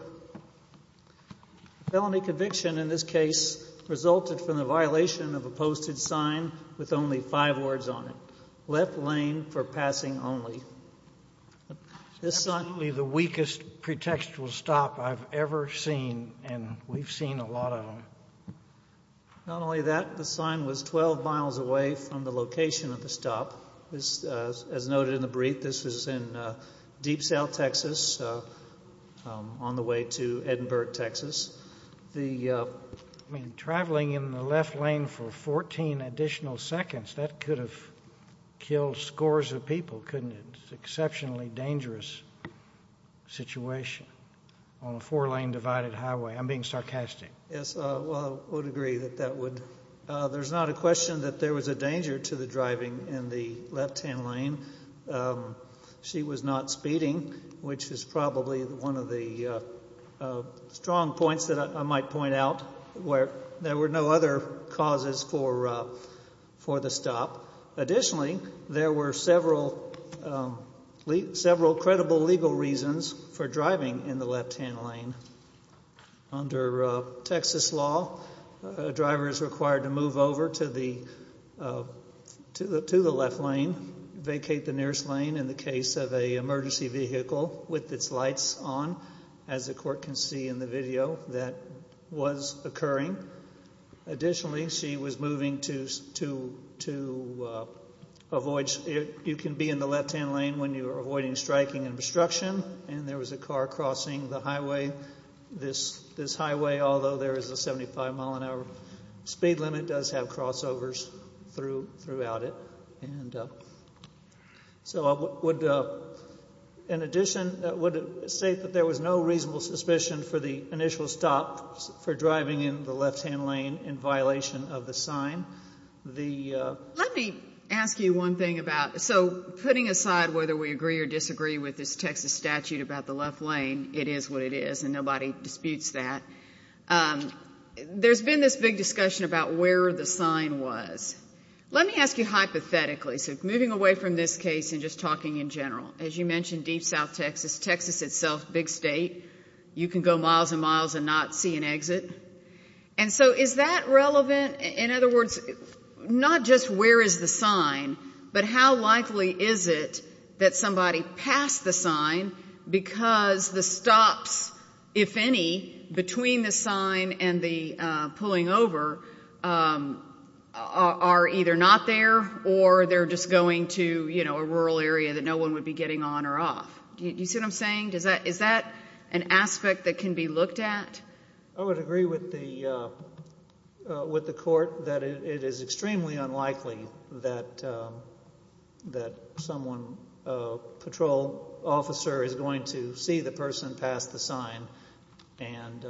A felony conviction in this case resulted from the violation of a posted sign with only five words on it, left lane for passing only. This sign... Absolutely the weakest pretextual stop I've ever seen and we've seen a lot of them. Not only that, the sign was 12 miles away from the location of the stop. As noted in the brief, this was in Deep South Texas on the way to Edinburgh, Texas. Traveling in the left lane for 14 additional seconds, that could have killed scores of people, couldn't it? It's an exceptionally dangerous situation on a four lane divided highway. I'm being sarcastic. Yes, well, I would agree that that would... There's not a question that there was a danger to the driving in the left hand lane. She was not speeding, which is probably one of the strong points that I might point out where there were no other causes for the stop. Additionally, there were several credible legal reasons for driving in the left hand lane. Under Texas law, a driver is required to move over to the left lane, vacate the nearest lane in the case of an emergency vehicle with its lights on, as the court can see in the video that was occurring. Additionally, she was moving to avoid... You can be in the left hand lane when you're avoiding striking and obstruction and there is a car crossing the highway, this highway, although there is a 75 mile an hour speed limit, does have crossovers throughout it. So in addition, I would say that there was no reasonable suspicion for the initial stop for driving in the left hand lane in violation of the sign. Let me ask you one thing about... So putting aside whether we agree or disagree with this Texas statute about the left lane, it is what it is and nobody disputes that. There's been this big discussion about where the sign was. Let me ask you hypothetically, so moving away from this case and just talking in general. As you mentioned, deep south Texas, Texas itself, big state, you can go miles and miles and not see an exit. And so is that relevant? In other words, not just where is the sign, but how likely is it that somebody passed the sign because the stops, if any, between the sign and the pulling over are either not there or they're just going to, you know, a rural area that no one would be getting on or off. Do you see what I'm saying? Is that an aspect that can be looked at? I would agree with the court that it is extremely unlikely that someone, a patrol officer, is going to see the person pass the sign. And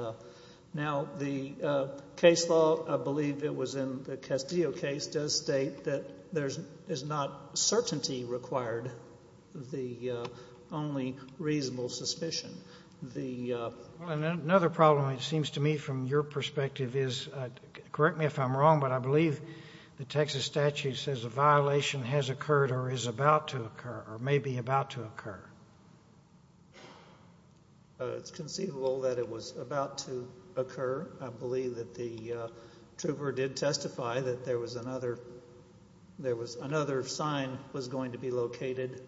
now the case law, I believe it was in the Castillo case, does state that there is not certainty required, the only reasonable suspicion. Another problem, it seems to me, from your perspective is, correct me if I'm wrong, but I believe the Texas statute says a violation has occurred or is about to occur, or may be about to occur. It's conceivable that it was about to occur. I believe that the trooper did testify that there was another, there was another sign was going to be located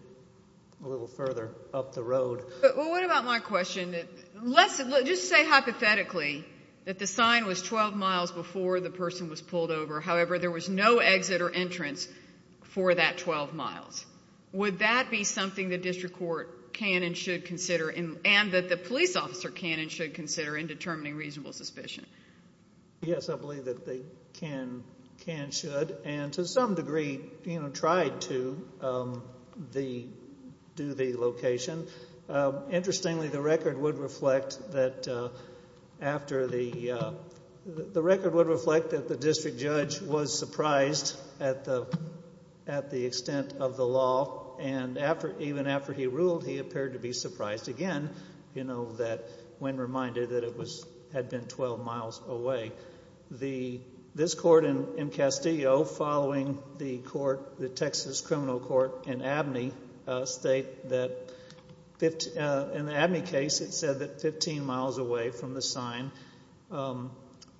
a little further up the road. But what about my question, let's just say hypothetically that the sign was 12 miles before the person was pulled over, however, there was no exit or entrance for that 12 miles. Would that be something the district court can and should consider, and that the police officer can and should consider in determining reasonable suspicion? Yes, I believe that they can, can, should, and to some degree, you know, tried to do the location. Interestingly, the record would reflect that after the, the record would reflect that the district judge was surprised at the, at the extent of the law, and after, even after he ruled, he appeared to be surprised again, you know, that, when reminded that it was, had been 12 miles away. The, this court in Castillo, following the court, the Texas criminal court in Abney State that, in the Abney case, it said that 15 miles away from the sign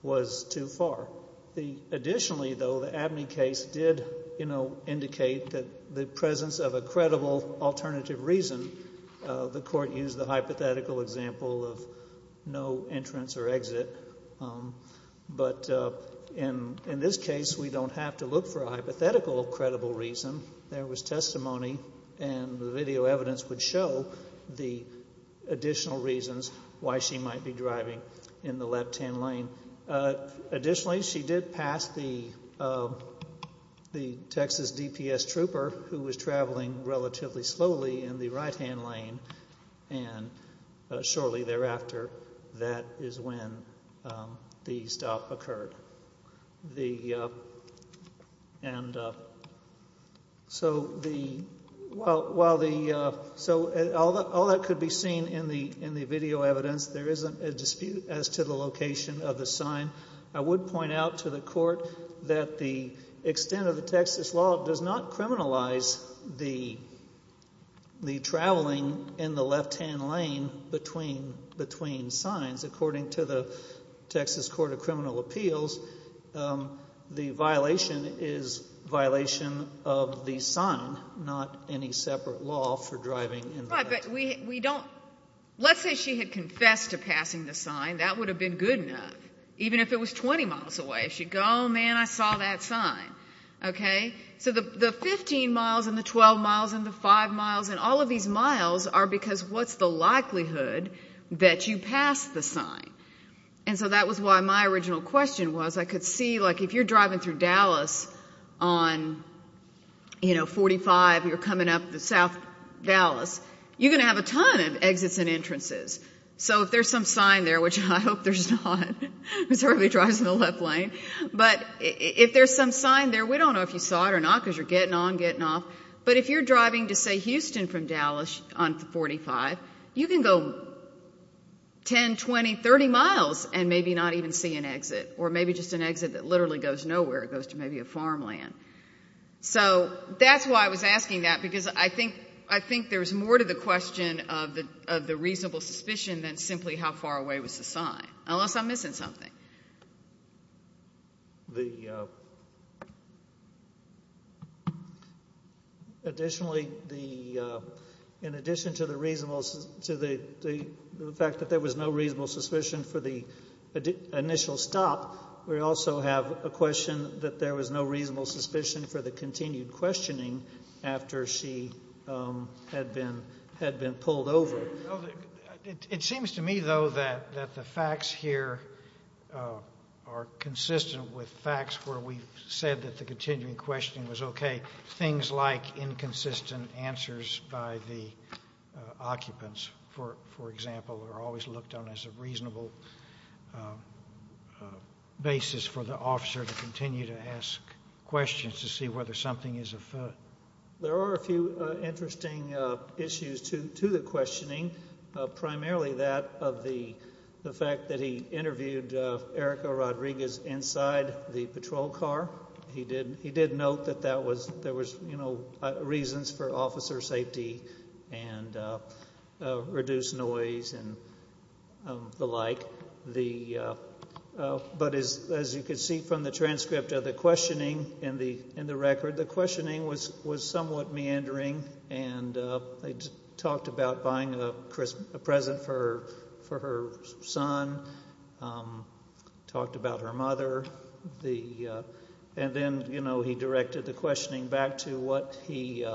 was too far. The, additionally, though, the Abney case did, you know, indicate that the presence of a credible alternative reason, the court used the hypothetical example of no entrance or exit, but in, in this case, we don't have to look for a hypothetical credible reason. There was testimony, and the video evidence would show the additional reasons why she might be driving in the left-hand lane. Additionally, she did pass the, the Texas DPS trooper who was traveling relatively slowly in the right-hand lane, and shortly thereafter, that is when the stop occurred. The, and so the, while, while the, so all the, all that could be seen in the, in the video evidence. There isn't a dispute as to the location of the sign. I would point out to the court that the extent of the Texas law does not criminalize the, the traveling in the left-hand lane between, between signs. According to the Texas Court of Criminal Appeals, the violation is violation of the sign, not any separate law for driving in the left-hand lane. Right, but we, we don't, let's say she had confessed to passing the sign, that would have been good enough. Even if it was 20 miles away, she'd go, oh man, I saw that sign. Okay? So the, the 15 miles and the 12 miles and the five miles and all of these miles are because what's the likelihood that you passed the sign? And so that was why my original question was, I could see, like, if you're driving through Dallas on, you know, 45, you're coming up the South Dallas, you're going to have a ton of exits and entrances. So if there's some sign there, which I hope there's not, because everybody drives in the left lane, but if there's some sign there, we don't know if you saw it or not, because you're getting on, getting off. But if you're driving to, say, Houston from Dallas on 45, you can go 10, 20, 30 miles and maybe not even see an exit, or maybe just an exit that literally goes nowhere, it goes to maybe a farmland. So that's why I was asking that, because I think, I think there's more to the question of the, of the reasonable suspicion than simply how far away was the sign, unless I'm missing something. The, additionally, the, in addition to the reasonable, to the fact that there was no reasonable suspicion for the initial stop, we also have a question that there was no reasonable suspicion for the continued questioning after she had been, had been pulled over. Well, it seems to me, though, that, that the facts here are consistent with facts where we've said that the continuing questioning was okay. Things like inconsistent answers by the occupants, for, for example, are always looked on as a reasonable basis for the officer to continue to ask questions to see whether something is afoot. There are a few interesting issues to, to the questioning, primarily that of the, the fact that he interviewed Erica Rodriguez inside the patrol car. He did, he did note that that was, there was, you know, reasons for officer safety and reduced noise and the like. The, but as, as you can see from the transcript of the questioning in the, in the record, the questioning was, was somewhat meandering and they talked about buying a present for, for her son, talked about her mother, the, and then, you know, he directed the questioning back to what he,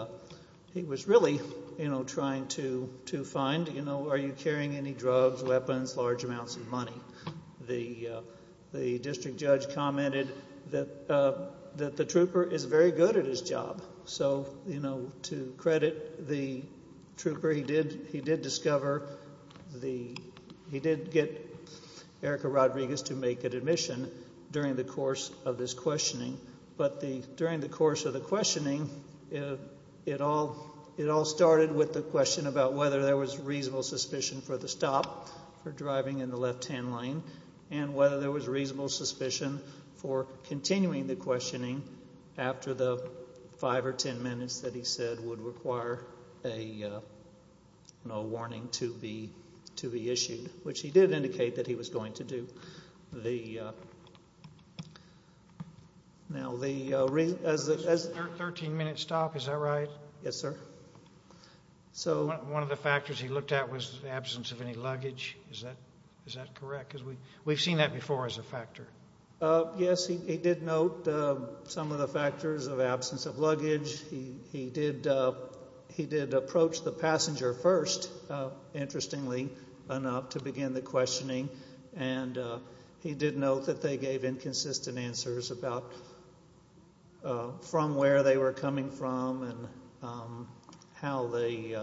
he was really, you know, trying to, to find, you know, are you carrying any drugs, weapons, large amounts of money? The, the district judge commented that, that the trooper is very good at his job. So, you know, to credit the trooper, he did, he did discover the, he did get Erica Rodriguez to make an admission during the course of this questioning. But the, during the course of the questioning, it all, it all started with the question about whether there was reasonable suspicion for the stop for driving in the left-hand lane and whether there was reasonable suspicion for continuing the questioning after the five or ten minutes that he said would require a, you know, a warning to be, to be issued, which he did indicate that he was going to do. The, now the, as the, as the, 13 minute stop, is that right? Yes, sir. So, one of the factors he looked at was the absence of any luggage, is that, is that correct? Because we, we've seen that before as a factor. Yes, he, he did note some of the factors of absence of luggage, he, he did, he did approach the passenger first, interestingly enough, to begin the questioning, and he did note that they gave inconsistent answers about from where they were coming from and how they,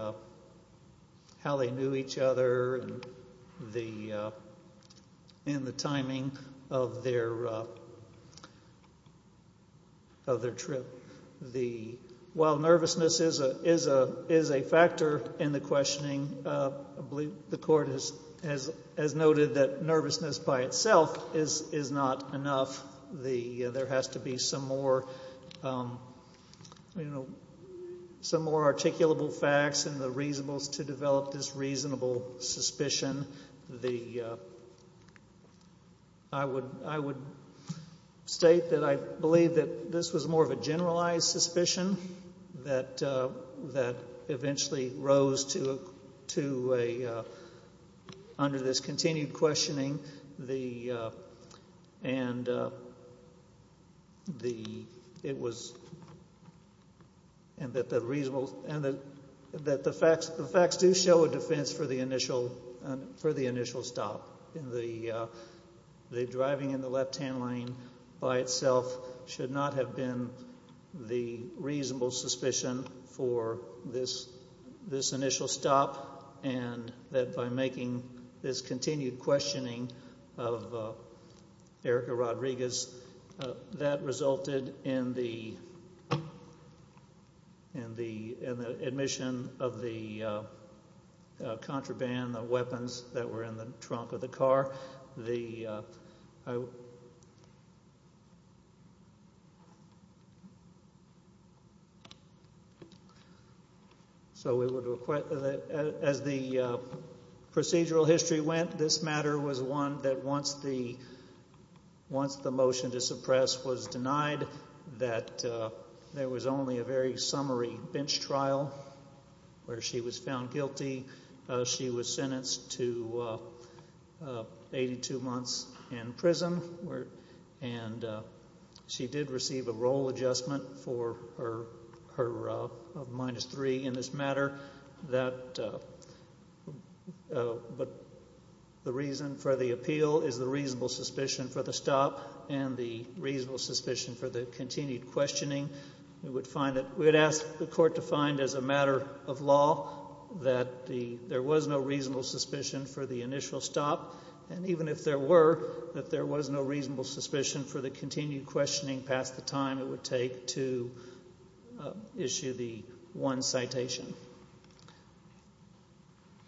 how they knew each other and the, and the timing of their, of their trip. The, while nervousness is a, is a, is a factor in the questioning, I believe the court has, has noted that nervousness by itself is, is not enough. The, there has to be some more, you know, some more articulable facts and the reasonables to develop this reasonable suspicion. The, I would, I would state that I believe that this was more of a generalized suspicion that, that eventually rose to, to a, under this continued questioning, the, and the, it was, and that the reasonable, and the, that the facts, the facts do show a defense for the initial, for the initial stop in the, the driving in the left-hand lane by itself should not have been the reasonable suspicion for this, this initial stop and that by making this continued questioning of Erica Rodriguez, that resulted in the, in the, in the admission of the contraband, the weapons that were in the trunk of the car. The, so we would request, as the procedural history went, this matter was one that once the, once the motion to suppress was denied, that there was only a very summary bench trial where she was found guilty. She was sentenced to 82 months in prison where, and she did receive a role adjustment for her, her, of minus three in this matter, that, but the reason for the appeal is the reasonable suspicion for the stop and the reasonable suspicion for the continued questioning. We would find that, we would ask the court to find as a matter of law that the, there was no reasonable suspicion for the initial stop, and even if there were, that there was no reasonable suspicion for the continued questioning past the time it would take to issue the one citation.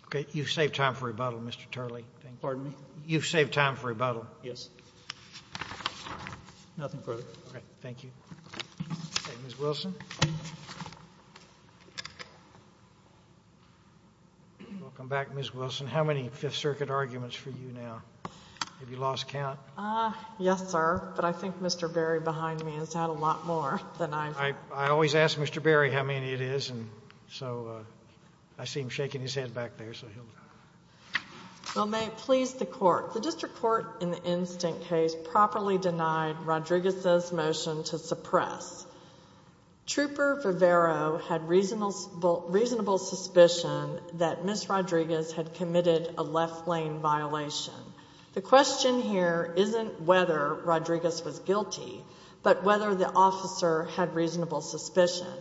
Okay. You've saved time for rebuttal, Mr. Turley. Pardon me? You've saved time for rebuttal. Yes. Nothing further. Okay. Thank you. Thank you. Ms. Wilson? Welcome back, Ms. Wilson. How many Fifth Circuit arguments for you now? Have you lost count? Ah, yes, sir, but I think Mr. Berry behind me has had a lot more than I've. I always ask Mr. Berry how many it is, and so I see him shaking his head back there, so he'll. Well, may it please the Court. The district court in the instant case properly denied Rodriguez's motion to suppress. Trooper Rivero had reasonable suspicion that Ms. Rodriguez had committed a left lane violation. The question here isn't whether Rodriguez was guilty, but whether the officer had reasonable suspicion.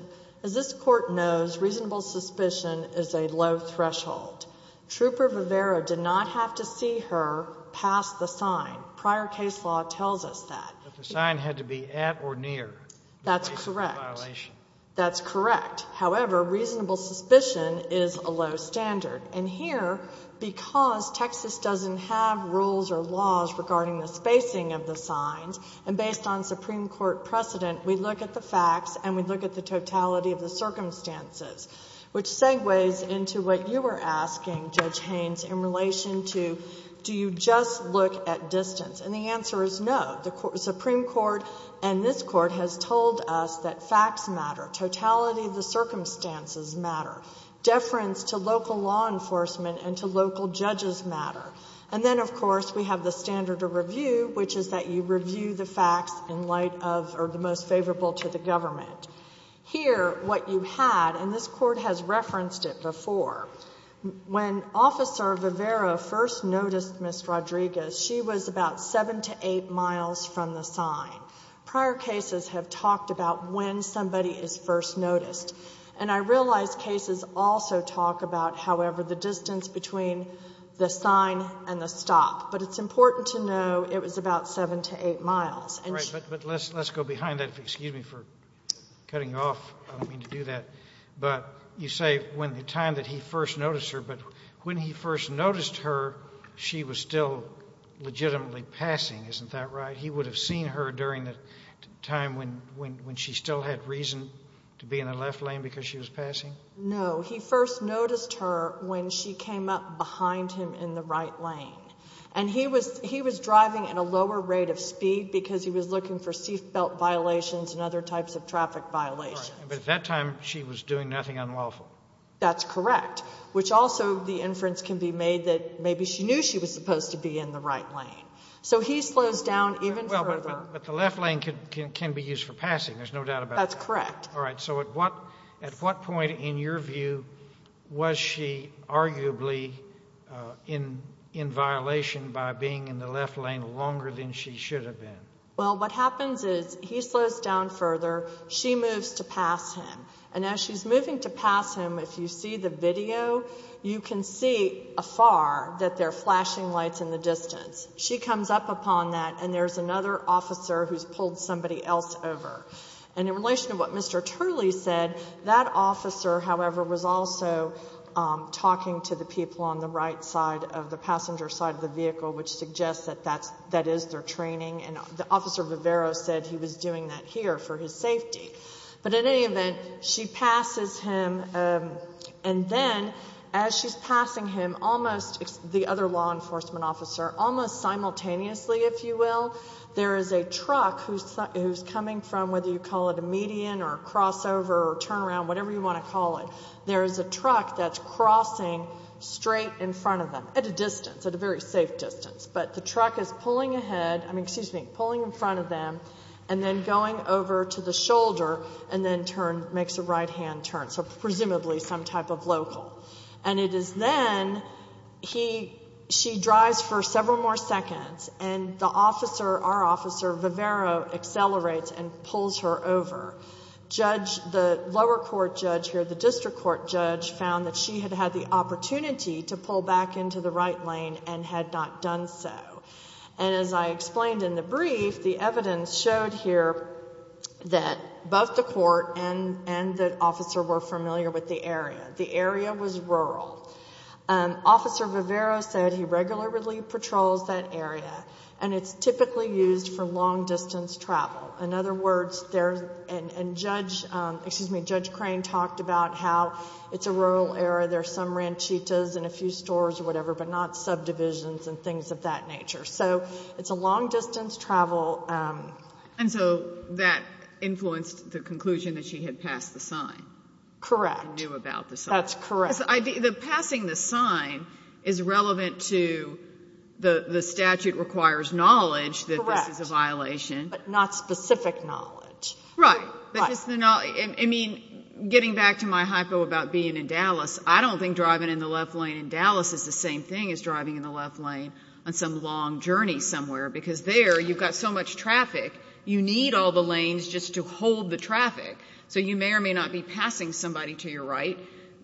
As this Court knows, reasonable suspicion is a low threshold. Trooper Rivero did not have to see her pass the sign. Prior case law tells us that. But the sign had to be at or near the place of the violation. That's correct. That's correct. However, reasonable suspicion is a low standard. And here, because Texas doesn't have rules or laws regarding the spacing of the signs, and based on Supreme Court precedent, we look at the facts, and we look at the totality of the circumstances, which segues into what you were asking, Judge Haynes, in relation to do you just look at distance. And the answer is no. The Supreme Court and this Court has told us that facts matter. Totality of the circumstances matter. Deference to local law enforcement and to local judges matter. And then, of course, we have the standard of review, which is that you review the facts in light of or the most favorable to the government. Here, what you had, and this Court has referenced it before, when Officer Rivera first noticed Ms. Rodriguez, she was about seven to eight miles from the sign. Prior cases have talked about when somebody is first noticed. And I realize cases also talk about, however, the distance between the sign and the stop. But it's important to know it was about seven to eight miles. Right. But let's go behind that. Excuse me for cutting you off. I don't mean to do that. But you say when the time that he first noticed her. But when he first noticed her, she was still legitimately passing. Isn't that right? That he would have seen her during the time when she still had reason to be in the left lane because she was passing? No. He first noticed her when she came up behind him in the right lane. And he was driving at a lower rate of speed because he was looking for seat belt violations and other types of traffic violations. Right. But at that time, she was doing nothing unlawful. That's correct, which also the inference can be made that maybe she knew she was supposed to be in the right lane. So he slows down even further. But the left lane can be used for passing. There's no doubt about that. That's correct. All right. So at what point in your view was she arguably in violation by being in the left lane longer than she should have been? Well, what happens is he slows down further. She moves to pass him. And as she's moving to pass him, if you see the video, you can see afar that there are flashing lights in the distance. She comes up upon that. And there's another officer who's pulled somebody else over. And in relation to what Mr. Turley said, that officer, however, was also talking to the people on the right side of the passenger side of the vehicle, which suggests that that is their training. And Officer Vivero said he was doing that here for his safety. But in any event, she passes him. And then as she's passing him, almost the other law enforcement officer, almost simultaneously, if you will, there is a truck who's coming from, whether you call it a median or a crossover or a turnaround, whatever you want to call it, there is a truck that's crossing straight in front of them at a distance, at a very safe distance. But the truck is pulling ahead, I mean, excuse me, pulling in front of them and then going over to the shoulder and then makes a right-hand turn. So presumably some type of local. And it is then, he, she drives for several more seconds and the officer, our officer Vivero accelerates and pulls her over. Judge, the lower court judge here, the district court judge, found that she had had the opportunity to pull back into the right lane and had not done so. And as I explained in the brief, the evidence showed here that both the court and the officer were familiar with the area. The area was rural. Officer Vivero said he regularly patrols that area and it's typically used for long-distance travel. In other words, there's, and Judge, excuse me, Judge Crane talked about how it's a rural area. There are some ranchitas and a few stores or whatever, but not subdivisions and things of that nature. So it's a long-distance travel. And so that influenced the conclusion that she had passed the sign. Correct. And knew about the sign. That's correct. The passing the sign is relevant to the statute requires knowledge that this is a violation. Correct. But not specific knowledge. Right. But just the knowledge. I mean, getting back to my hypo about being in Dallas, I don't think driving in the left lane in Dallas is the same thing as driving in the left lane on some long journey somewhere because there you've got so much traffic, you need all the lanes just to hold the traffic. So you may or may not be passing somebody to your right.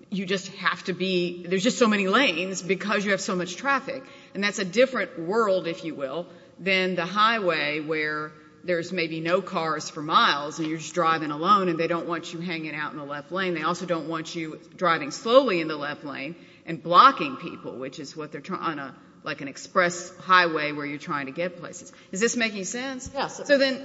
You just have to be, there's just so many lanes because you have so much traffic. And that's a different world, if you will, than the highway where there's maybe no cars for miles and you're just driving alone and they don't want you hanging out in the left lane. They also don't want you driving slowly in the left lane and blocking people, which is what they're trying to, like an express highway where you're trying to get places. Is this making sense? Yes. So then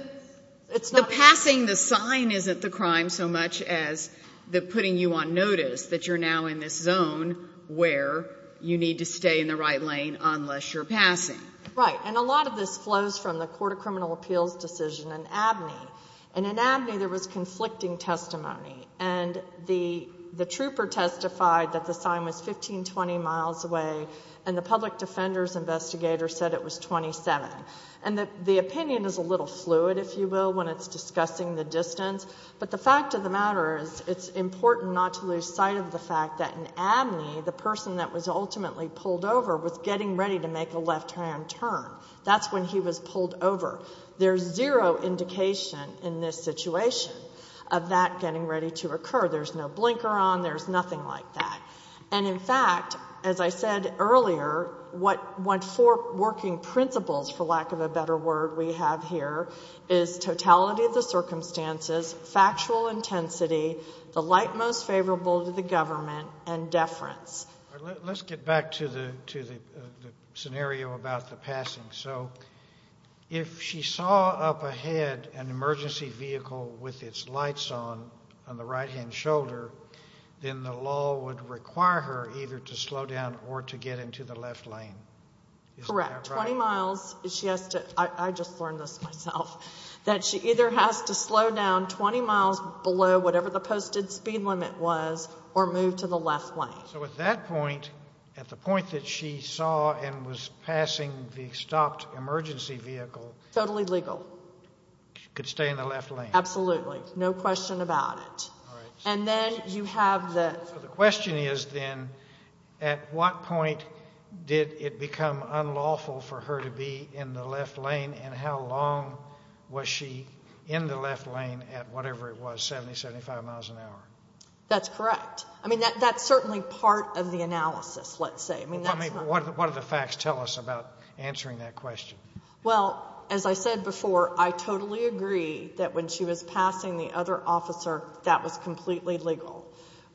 the passing the sign isn't the crime so much as the putting you on notice that you're now in this zone where you need to stay in the right lane unless you're passing. Right. And a lot of this flows from the Court of Criminal Appeals decision in Abney. And in Abney there was conflicting testimony. And the trooper testified that the sign was 15, 20 miles away and the public defender's investigator said it was 27. And the opinion is a little fluid, if you will, when it's discussing the distance. But the fact of the matter is it's important not to lose sight of the fact that in Abney the person that was ultimately pulled over was getting ready to make a left-hand turn. That's when he was pulled over. There's zero indication in this situation of that getting ready to occur. There's no blinker on. There's nothing like that. And in fact, as I said earlier, what four working principles, for lack of a better word, we have here is totality of the circumstances, factual intensity, the light most favorable to the government, and deference. Let's get back to the scenario about the passing. So if she saw up ahead an emergency vehicle with its lights on, on the right-hand shoulder, then the law would require her either to slow down or to get into the left lane. Is that right? Correct. 20 miles. She has to, I just learned this myself, that she either has to slow down 20 miles below whatever the posted speed limit was or move to the left lane. So at that point, at the point that she saw and was passing the stopped emergency vehicle. Totally legal. She could stay in the left lane. Absolutely. No question about it. All right. And then you have the. So the question is then, at what point did it become unlawful for her to be in the left lane and how long was she in the left lane at whatever it was, 70, 75 miles an hour? That's correct. I mean, that that's certainly part of the analysis, let's say. I mean, that's not. What do the facts tell us about answering that question? Well, as I said before, I totally agree that when she was passing the other officer, that was completely legal.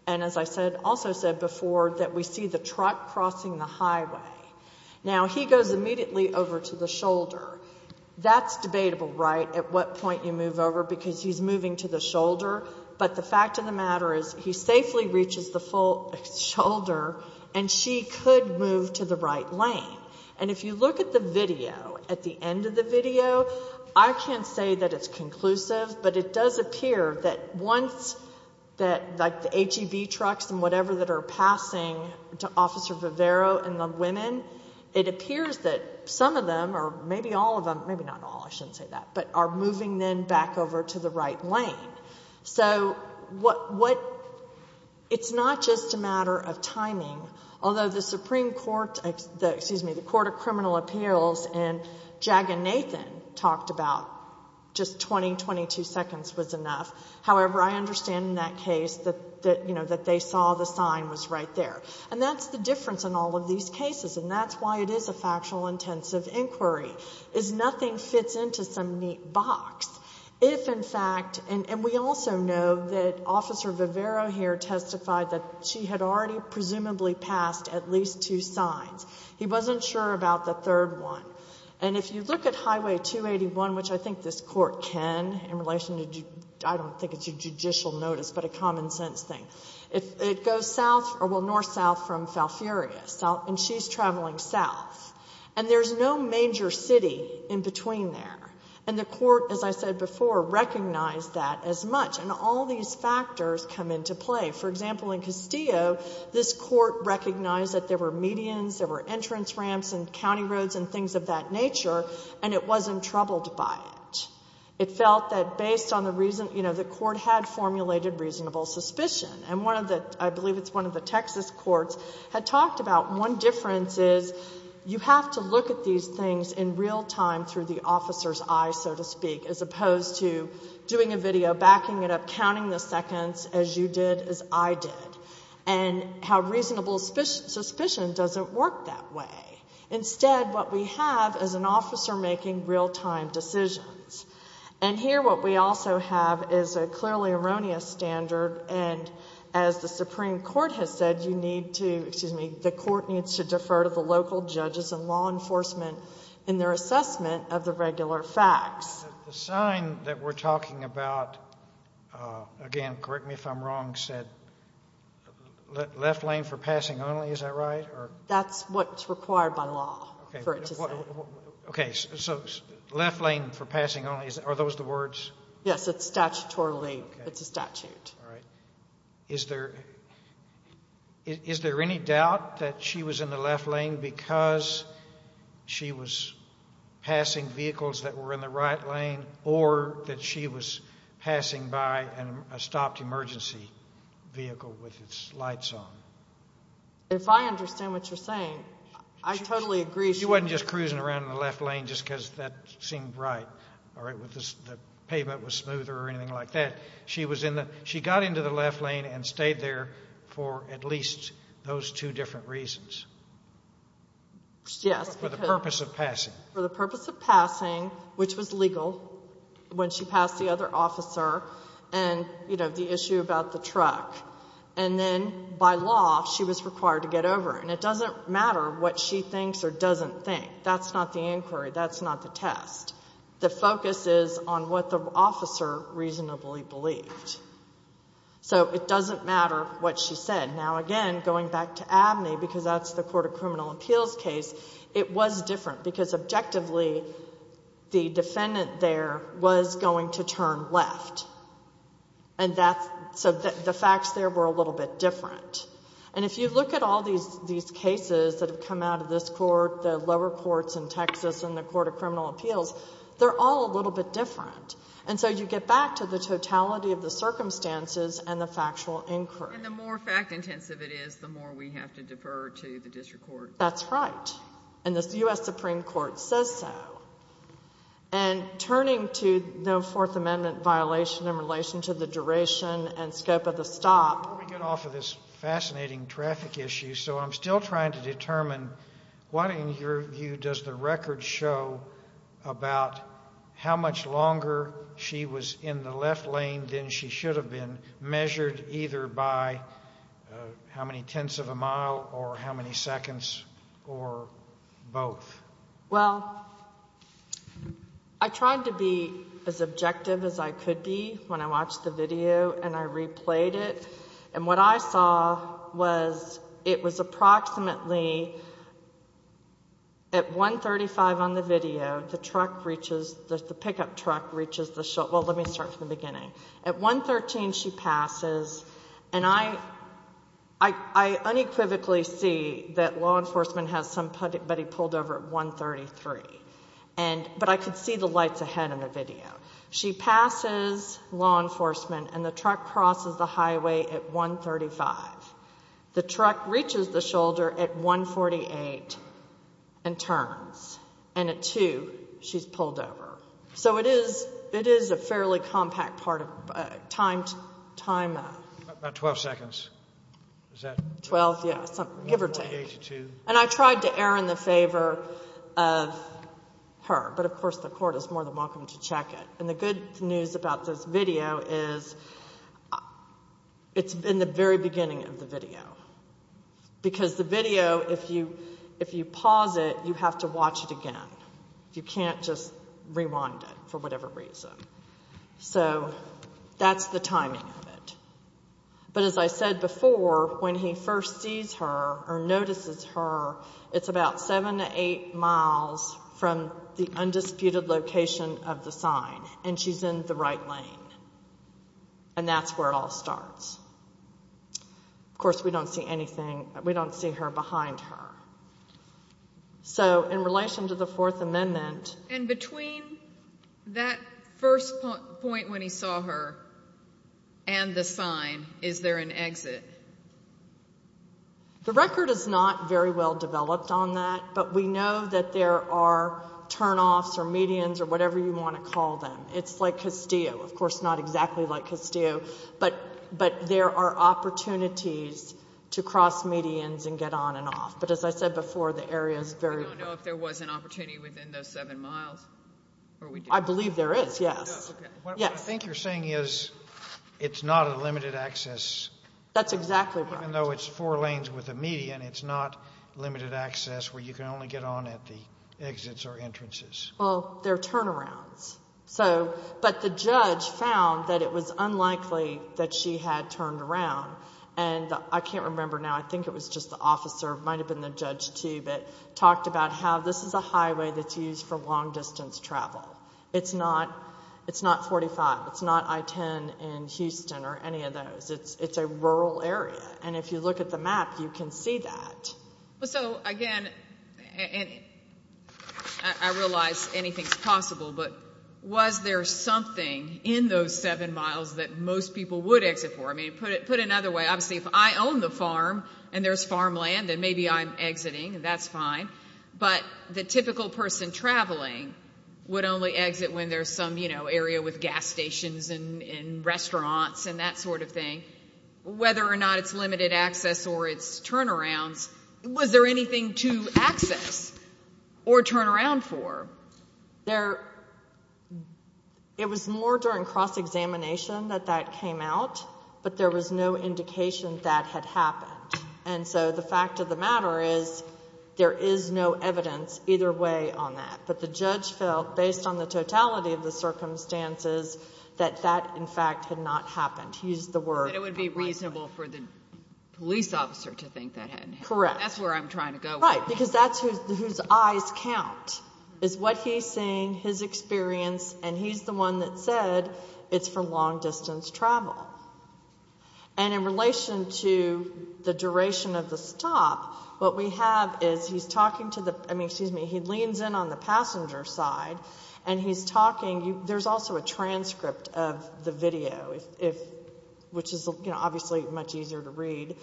And as I said, also said before, that we see the truck crossing the highway. Now he goes immediately over to the shoulder. That's debatable, right? At what point you move over because he's moving to the shoulder. But the fact of the matter is he safely reaches the full shoulder and she could move to the right lane. And if you look at the video, at the end of the video, I can't say that it's conclusive, but it does appear that once that like the HEV trucks and whatever that are passing to Officer Vivero and the women, it appears that some of them or maybe all of them, maybe not all, I shouldn't say that, but are moving then back over to the right lane. So what, it's not just a matter of timing, although the Supreme Court, excuse me, the Court of Criminal Appeals and Jag and Nathan talked about just 20, 22 seconds was enough. However, I understand in that case that, you know, that they saw the sign was right there. And that's the difference in all of these cases. And that's why it is a factual intensive inquiry. Is nothing fits into some neat box. If in fact, and we also know that Officer Vivero here testified that she had already presumably passed at least two signs. He wasn't sure about the third one. And if you look at Highway 281, which I think this Court can in relation to, I don't think it's a judicial notice, but a common sense thing. It goes south, well, north-south from Falfurria. And she's traveling south. And there's no major city in between there. And the Court, as I said before, recognized that as much. And all these factors come into play. For example, in Castillo, this Court recognized that there were medians, there were entrance ramps and county roads and things of that nature, and it wasn't troubled by it. It felt that based on the reason, you know, the Court had formulated reasonable suspicion. And one of the, I believe it's one of the Texas courts, had talked about one difference is you have to look at these things in real time through the officer's eyes, so to speak, as opposed to doing a video, backing it up, counting the seconds as you did, as I did. And how reasonable suspicion doesn't work that way. Instead, what we have is an officer making real-time decisions. And here what we also have is a clearly erroneous standard, and as the Supreme Court has said, you need to, excuse me, the Court needs to defer to the local judges and law enforcement in their assessment of the regular facts. The sign that we're talking about, again, correct me if I'm wrong, said left lane for passing only, is that right? That's what's required by law for it to say. Okay. So left lane for passing only, are those the words? Yes, it's statutorily. It's a statute. All right. Is there any doubt that she was in the left lane because she was passing vehicles that were in the right lane, or that she was passing by a stopped emergency vehicle with its lights on? If I understand what you're saying, I totally agree. She wasn't just cruising around in the left lane just because that seemed right, or the pavement was smoother or anything like that. She was in the, she got into the left lane and stayed there for at least those two different reasons. Yes. For the purpose of passing. For the purpose of passing, which was legal, when she passed the other officer, and, you know, the issue about the truck, and then by law she was required to get over, and it doesn't matter what she thinks or doesn't think. That's not the inquiry. That's not the test. The focus is on what the officer reasonably believed. So it doesn't matter what she said. Now again, going back to Abney, because that's the Court of Criminal Appeals case, it was different because objectively the defendant there was going to turn left, and that's, so the facts there were a little bit different. If you look at all these cases that have come out of this court, the lower courts in Texas and the Court of Criminal Appeals, they're all a little bit different. And so you get back to the totality of the circumstances and the factual inquiry. And the more fact-intensive it is, the more we have to defer to the district court. That's right. And the U.S. Supreme Court says so. And turning to no Fourth Amendment violation in relation to the duration and scope of the stop. Before we get off of this fascinating traffic issue, so I'm still trying to determine, what in your view does the record show about how much longer she was in the left lane than she should have been, measured either by how many tenths of a mile or how many seconds or both? Well, I tried to be as objective as I could be when I watched the video and I replayed it. And what I saw was it was approximately at 135 on the video, the truck reaches, the pickup truck reaches the, well, let me start from the beginning. At 113, she passes. And I unequivocally see that law enforcement has somebody pulled over at 133. But I could see the lights ahead in the video. She passes law enforcement and the truck crosses the highway at 135. The truck reaches the shoulder at 148 and turns. And at 2, she's pulled over. So it is, it is a fairly compact part of, time, time. About 12 seconds. 12, yeah, give or take. And I tried to err in the favor of her, but of course the court is more than welcome to And the good news about this video is it's in the very beginning of the video. Because the video, if you pause it, you have to watch it again. You can't just rewind it for whatever reason. So that's the timing of it. But as I said before, when he first sees her or notices her, it's about 7 to 8 miles from the undisputed location of the sign. And she's in the right lane. And that's where it all starts. Of course, we don't see anything, we don't see her behind her. So in relation to the Fourth Amendment. And between that first point when he saw her and the sign, is there an exit? The record is not very well developed on that. But we know that there are turn offs or medians or whatever you want to call them. It's like Castillo. Of course, not exactly like Castillo. But there are opportunities to cross medians and get on and off. But as I said before, the area is very... I don't know if there was an opportunity within those 7 miles. I believe there is, yes. Yes. What I think you're saying is, it's not a limited access... That's exactly right. Even though it's four lanes with a median, it's not limited access where you can only get on at the exits or entrances. Well, there are turnarounds. But the judge found that it was unlikely that she had turned around. And I can't remember now, I think it was just the officer, it might have been the judge too, but talked about how this is a highway that's used for long distance travel. It's not 45, it's not I-10 in Houston or any of those. It's a rural area. And if you look at the map, you can see that. So again, I realize anything's possible, but was there something in those 7 miles that most people would exit for? I mean, put it another way, obviously if I own the farm and there's farmland, then maybe I'm exiting and that's fine. But the typical person traveling would only exit when there's some area with gas stations and restaurants and that sort of thing. Whether or not it's limited access or it's turnarounds, was there anything to access or turn around for? It was more during cross-examination that that came out, but there was no indication that had happened. And so the fact of the matter is, there is no evidence either way on that. But the judge felt, based on the totality of the circumstances, that that in fact had not happened. He used the word. It would be reasonable for the police officer to think that hadn't happened. Correct. That's where I'm trying to go with it. Right. Because that's whose eyes count, is what he's seeing, his experience, and he's the one that said it's for long distance travel. And in relation to the duration of the stop, what we have is he's talking to the, I mean, he leans in on the passenger side, and he's talking. There's also a transcript of the video, which is obviously much easier to read.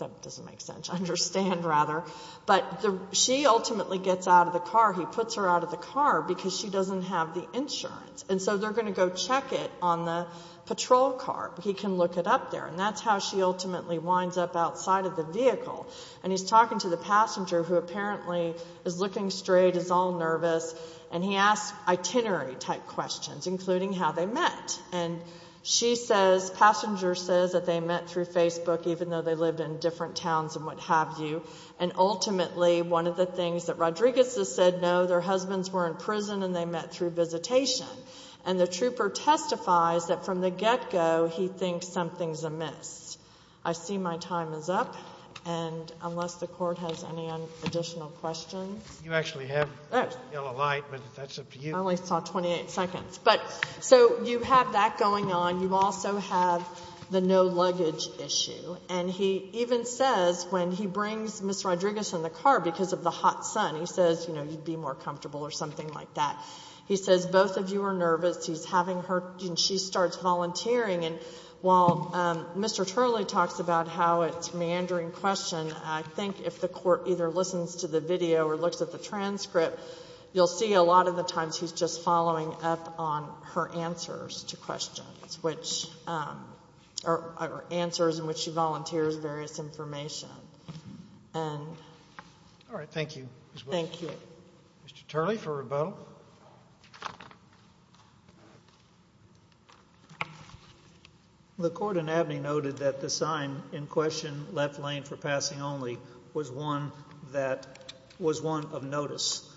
That doesn't make sense to understand, rather. But she ultimately gets out of the car. He puts her out of the car because she doesn't have the insurance. And so they're going to go check it on the patrol car. He can look it up there. And that's how she ultimately winds up outside of the vehicle. And he's talking to the passenger, who apparently is looking straight, is all nervous. And he asks itinerary-type questions, including how they met. And she says, passenger says that they met through Facebook, even though they lived in different towns and what have you. And ultimately, one of the things that Rodriguez has said, no, their husbands were in prison and they met through visitation. And the trooper testifies that from the get-go, he thinks something's amiss. I see my time is up. And unless the court has any additional questions. You actually have the yellow light, but that's up to you. I only saw 28 seconds. So you have that going on. You also have the no luggage issue. And he even says, when he brings Ms. Rodriguez in the car because of the hot sun, he says, you'd be more comfortable or something like that. He says, both of you are nervous. He's having her, and she starts volunteering. And while Mr. Turley talks about how it's a meandering question, I think if the court either listens to the video or looks at the transcript, you'll see a lot of the times he's just following up on her answers to questions, which are answers in which she volunteers various information. And. All right. Thank you. Thank you. Mr. Turley for rebuttal. The court in Abney noted that the sign in question, left lane for passing only, was one that was one of notice.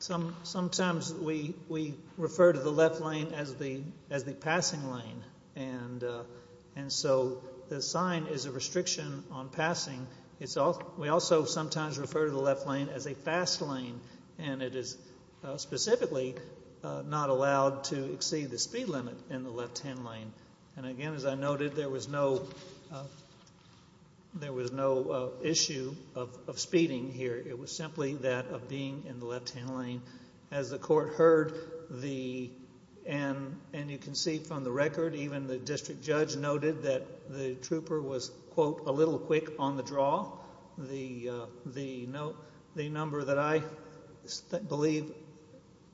Sometimes we refer to the left lane as the passing lane. And so the sign is a restriction on passing. We also sometimes refer to the left lane as a fast lane. And it is specifically not allowed to exceed the speed limit in the left-hand lane. And again, as I noted, there was no issue of speeding here. It was simply that of being in the left-hand lane. As the court heard, and you can see from the record, even the district judge noted that the trooper was, quote, a little quick on the draw. The number that I believe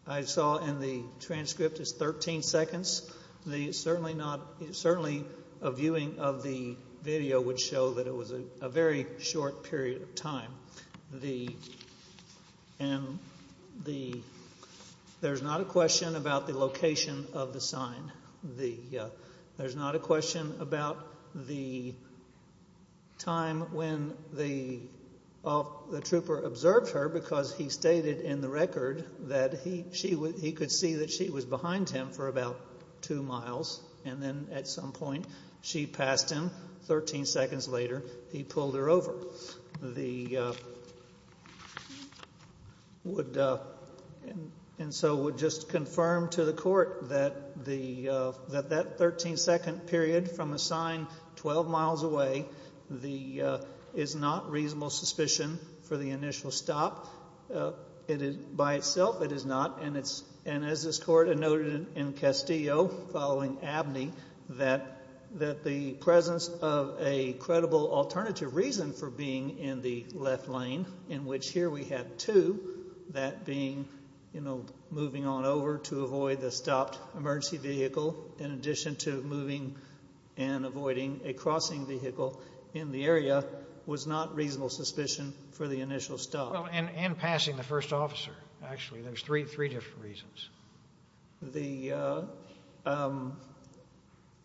I saw in the transcript is 13 seconds. Certainly a viewing of the video would show that it was a very short period of time. There's not a question about the location of the sign. There's not a question about the time when the trooper observed her, because he stated in the record that he could see that she was behind him for about two miles. And then at some point, she passed him. Thirteen seconds later, he pulled her over. And so would just confirm to the court that that 13-second period from a sign 12 miles away is not reasonable suspicion for the initial stop. By itself, it is not. And as this court noted in Castillo following Abney, that the presence of a credible alternative reason for being in the left lane, in which here we have two, that being, you know, moving on over to avoid the stopped emergency vehicle, in addition to moving and avoiding a crossing vehicle in the area, was not reasonable suspicion for the initial stop. And passing the first officer, actually. There's three different reasons. The,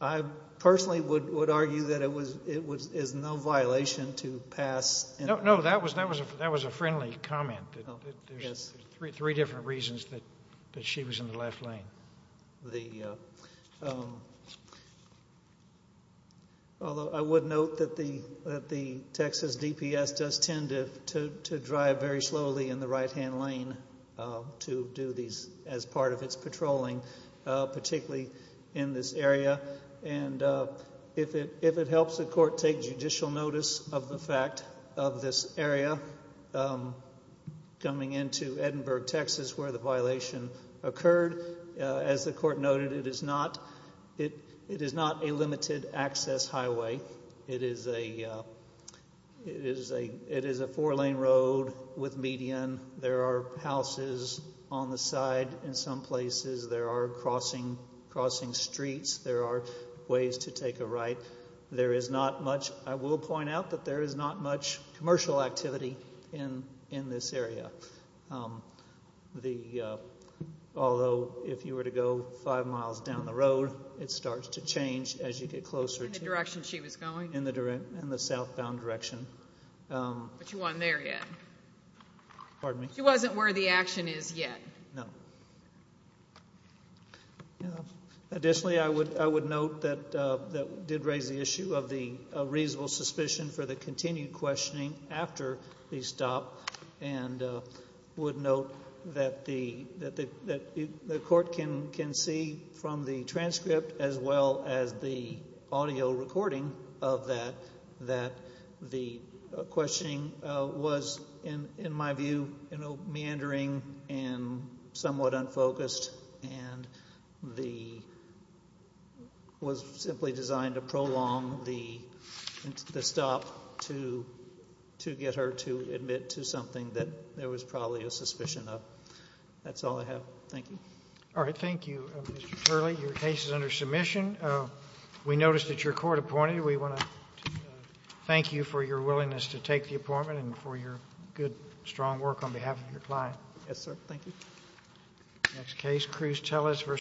I personally would argue that it is no violation to pass. No, that was a friendly comment, that there's three different reasons that she was in the left lane. The, although I would note that the Texas DPS does tend to drive very slowly in the part of its patrolling, particularly in this area. And if it helps the court take judicial notice of the fact of this area coming into Edinburgh, Texas, where the violation occurred, as the court noted, it is not a limited access highway. It is a four-lane road with median. There are houses on the side in some places. There are crossing streets. There are ways to take a right. There is not much, I will point out that there is not much commercial activity in this area. The, although if you were to go five miles down the road, it starts to change as you get closer. In the direction she was going? In the southbound direction. But she wasn't there yet? Pardon me? She wasn't where the action is yet? No. Additionally, I would note that that did raise the issue of the reasonable suspicion for the continued questioning after the stop, and would note that the court can see from the transcript as well as the audio recording of that, that the questioning was in my view meandering and somewhat unfocused, and the, was simply designed to prolong the stop to get her to admit to something that there was probably a suspicion of. That's all I have. Thank you. All right. Thank you, Mr. Turley. Your case is under submission. We noticed that your court appointed you. We want to thank you for your willingness to take the appointment and for your good, strong work on behalf of your client. Yes, sir. Thank you. Next case, Cruz Tellez v.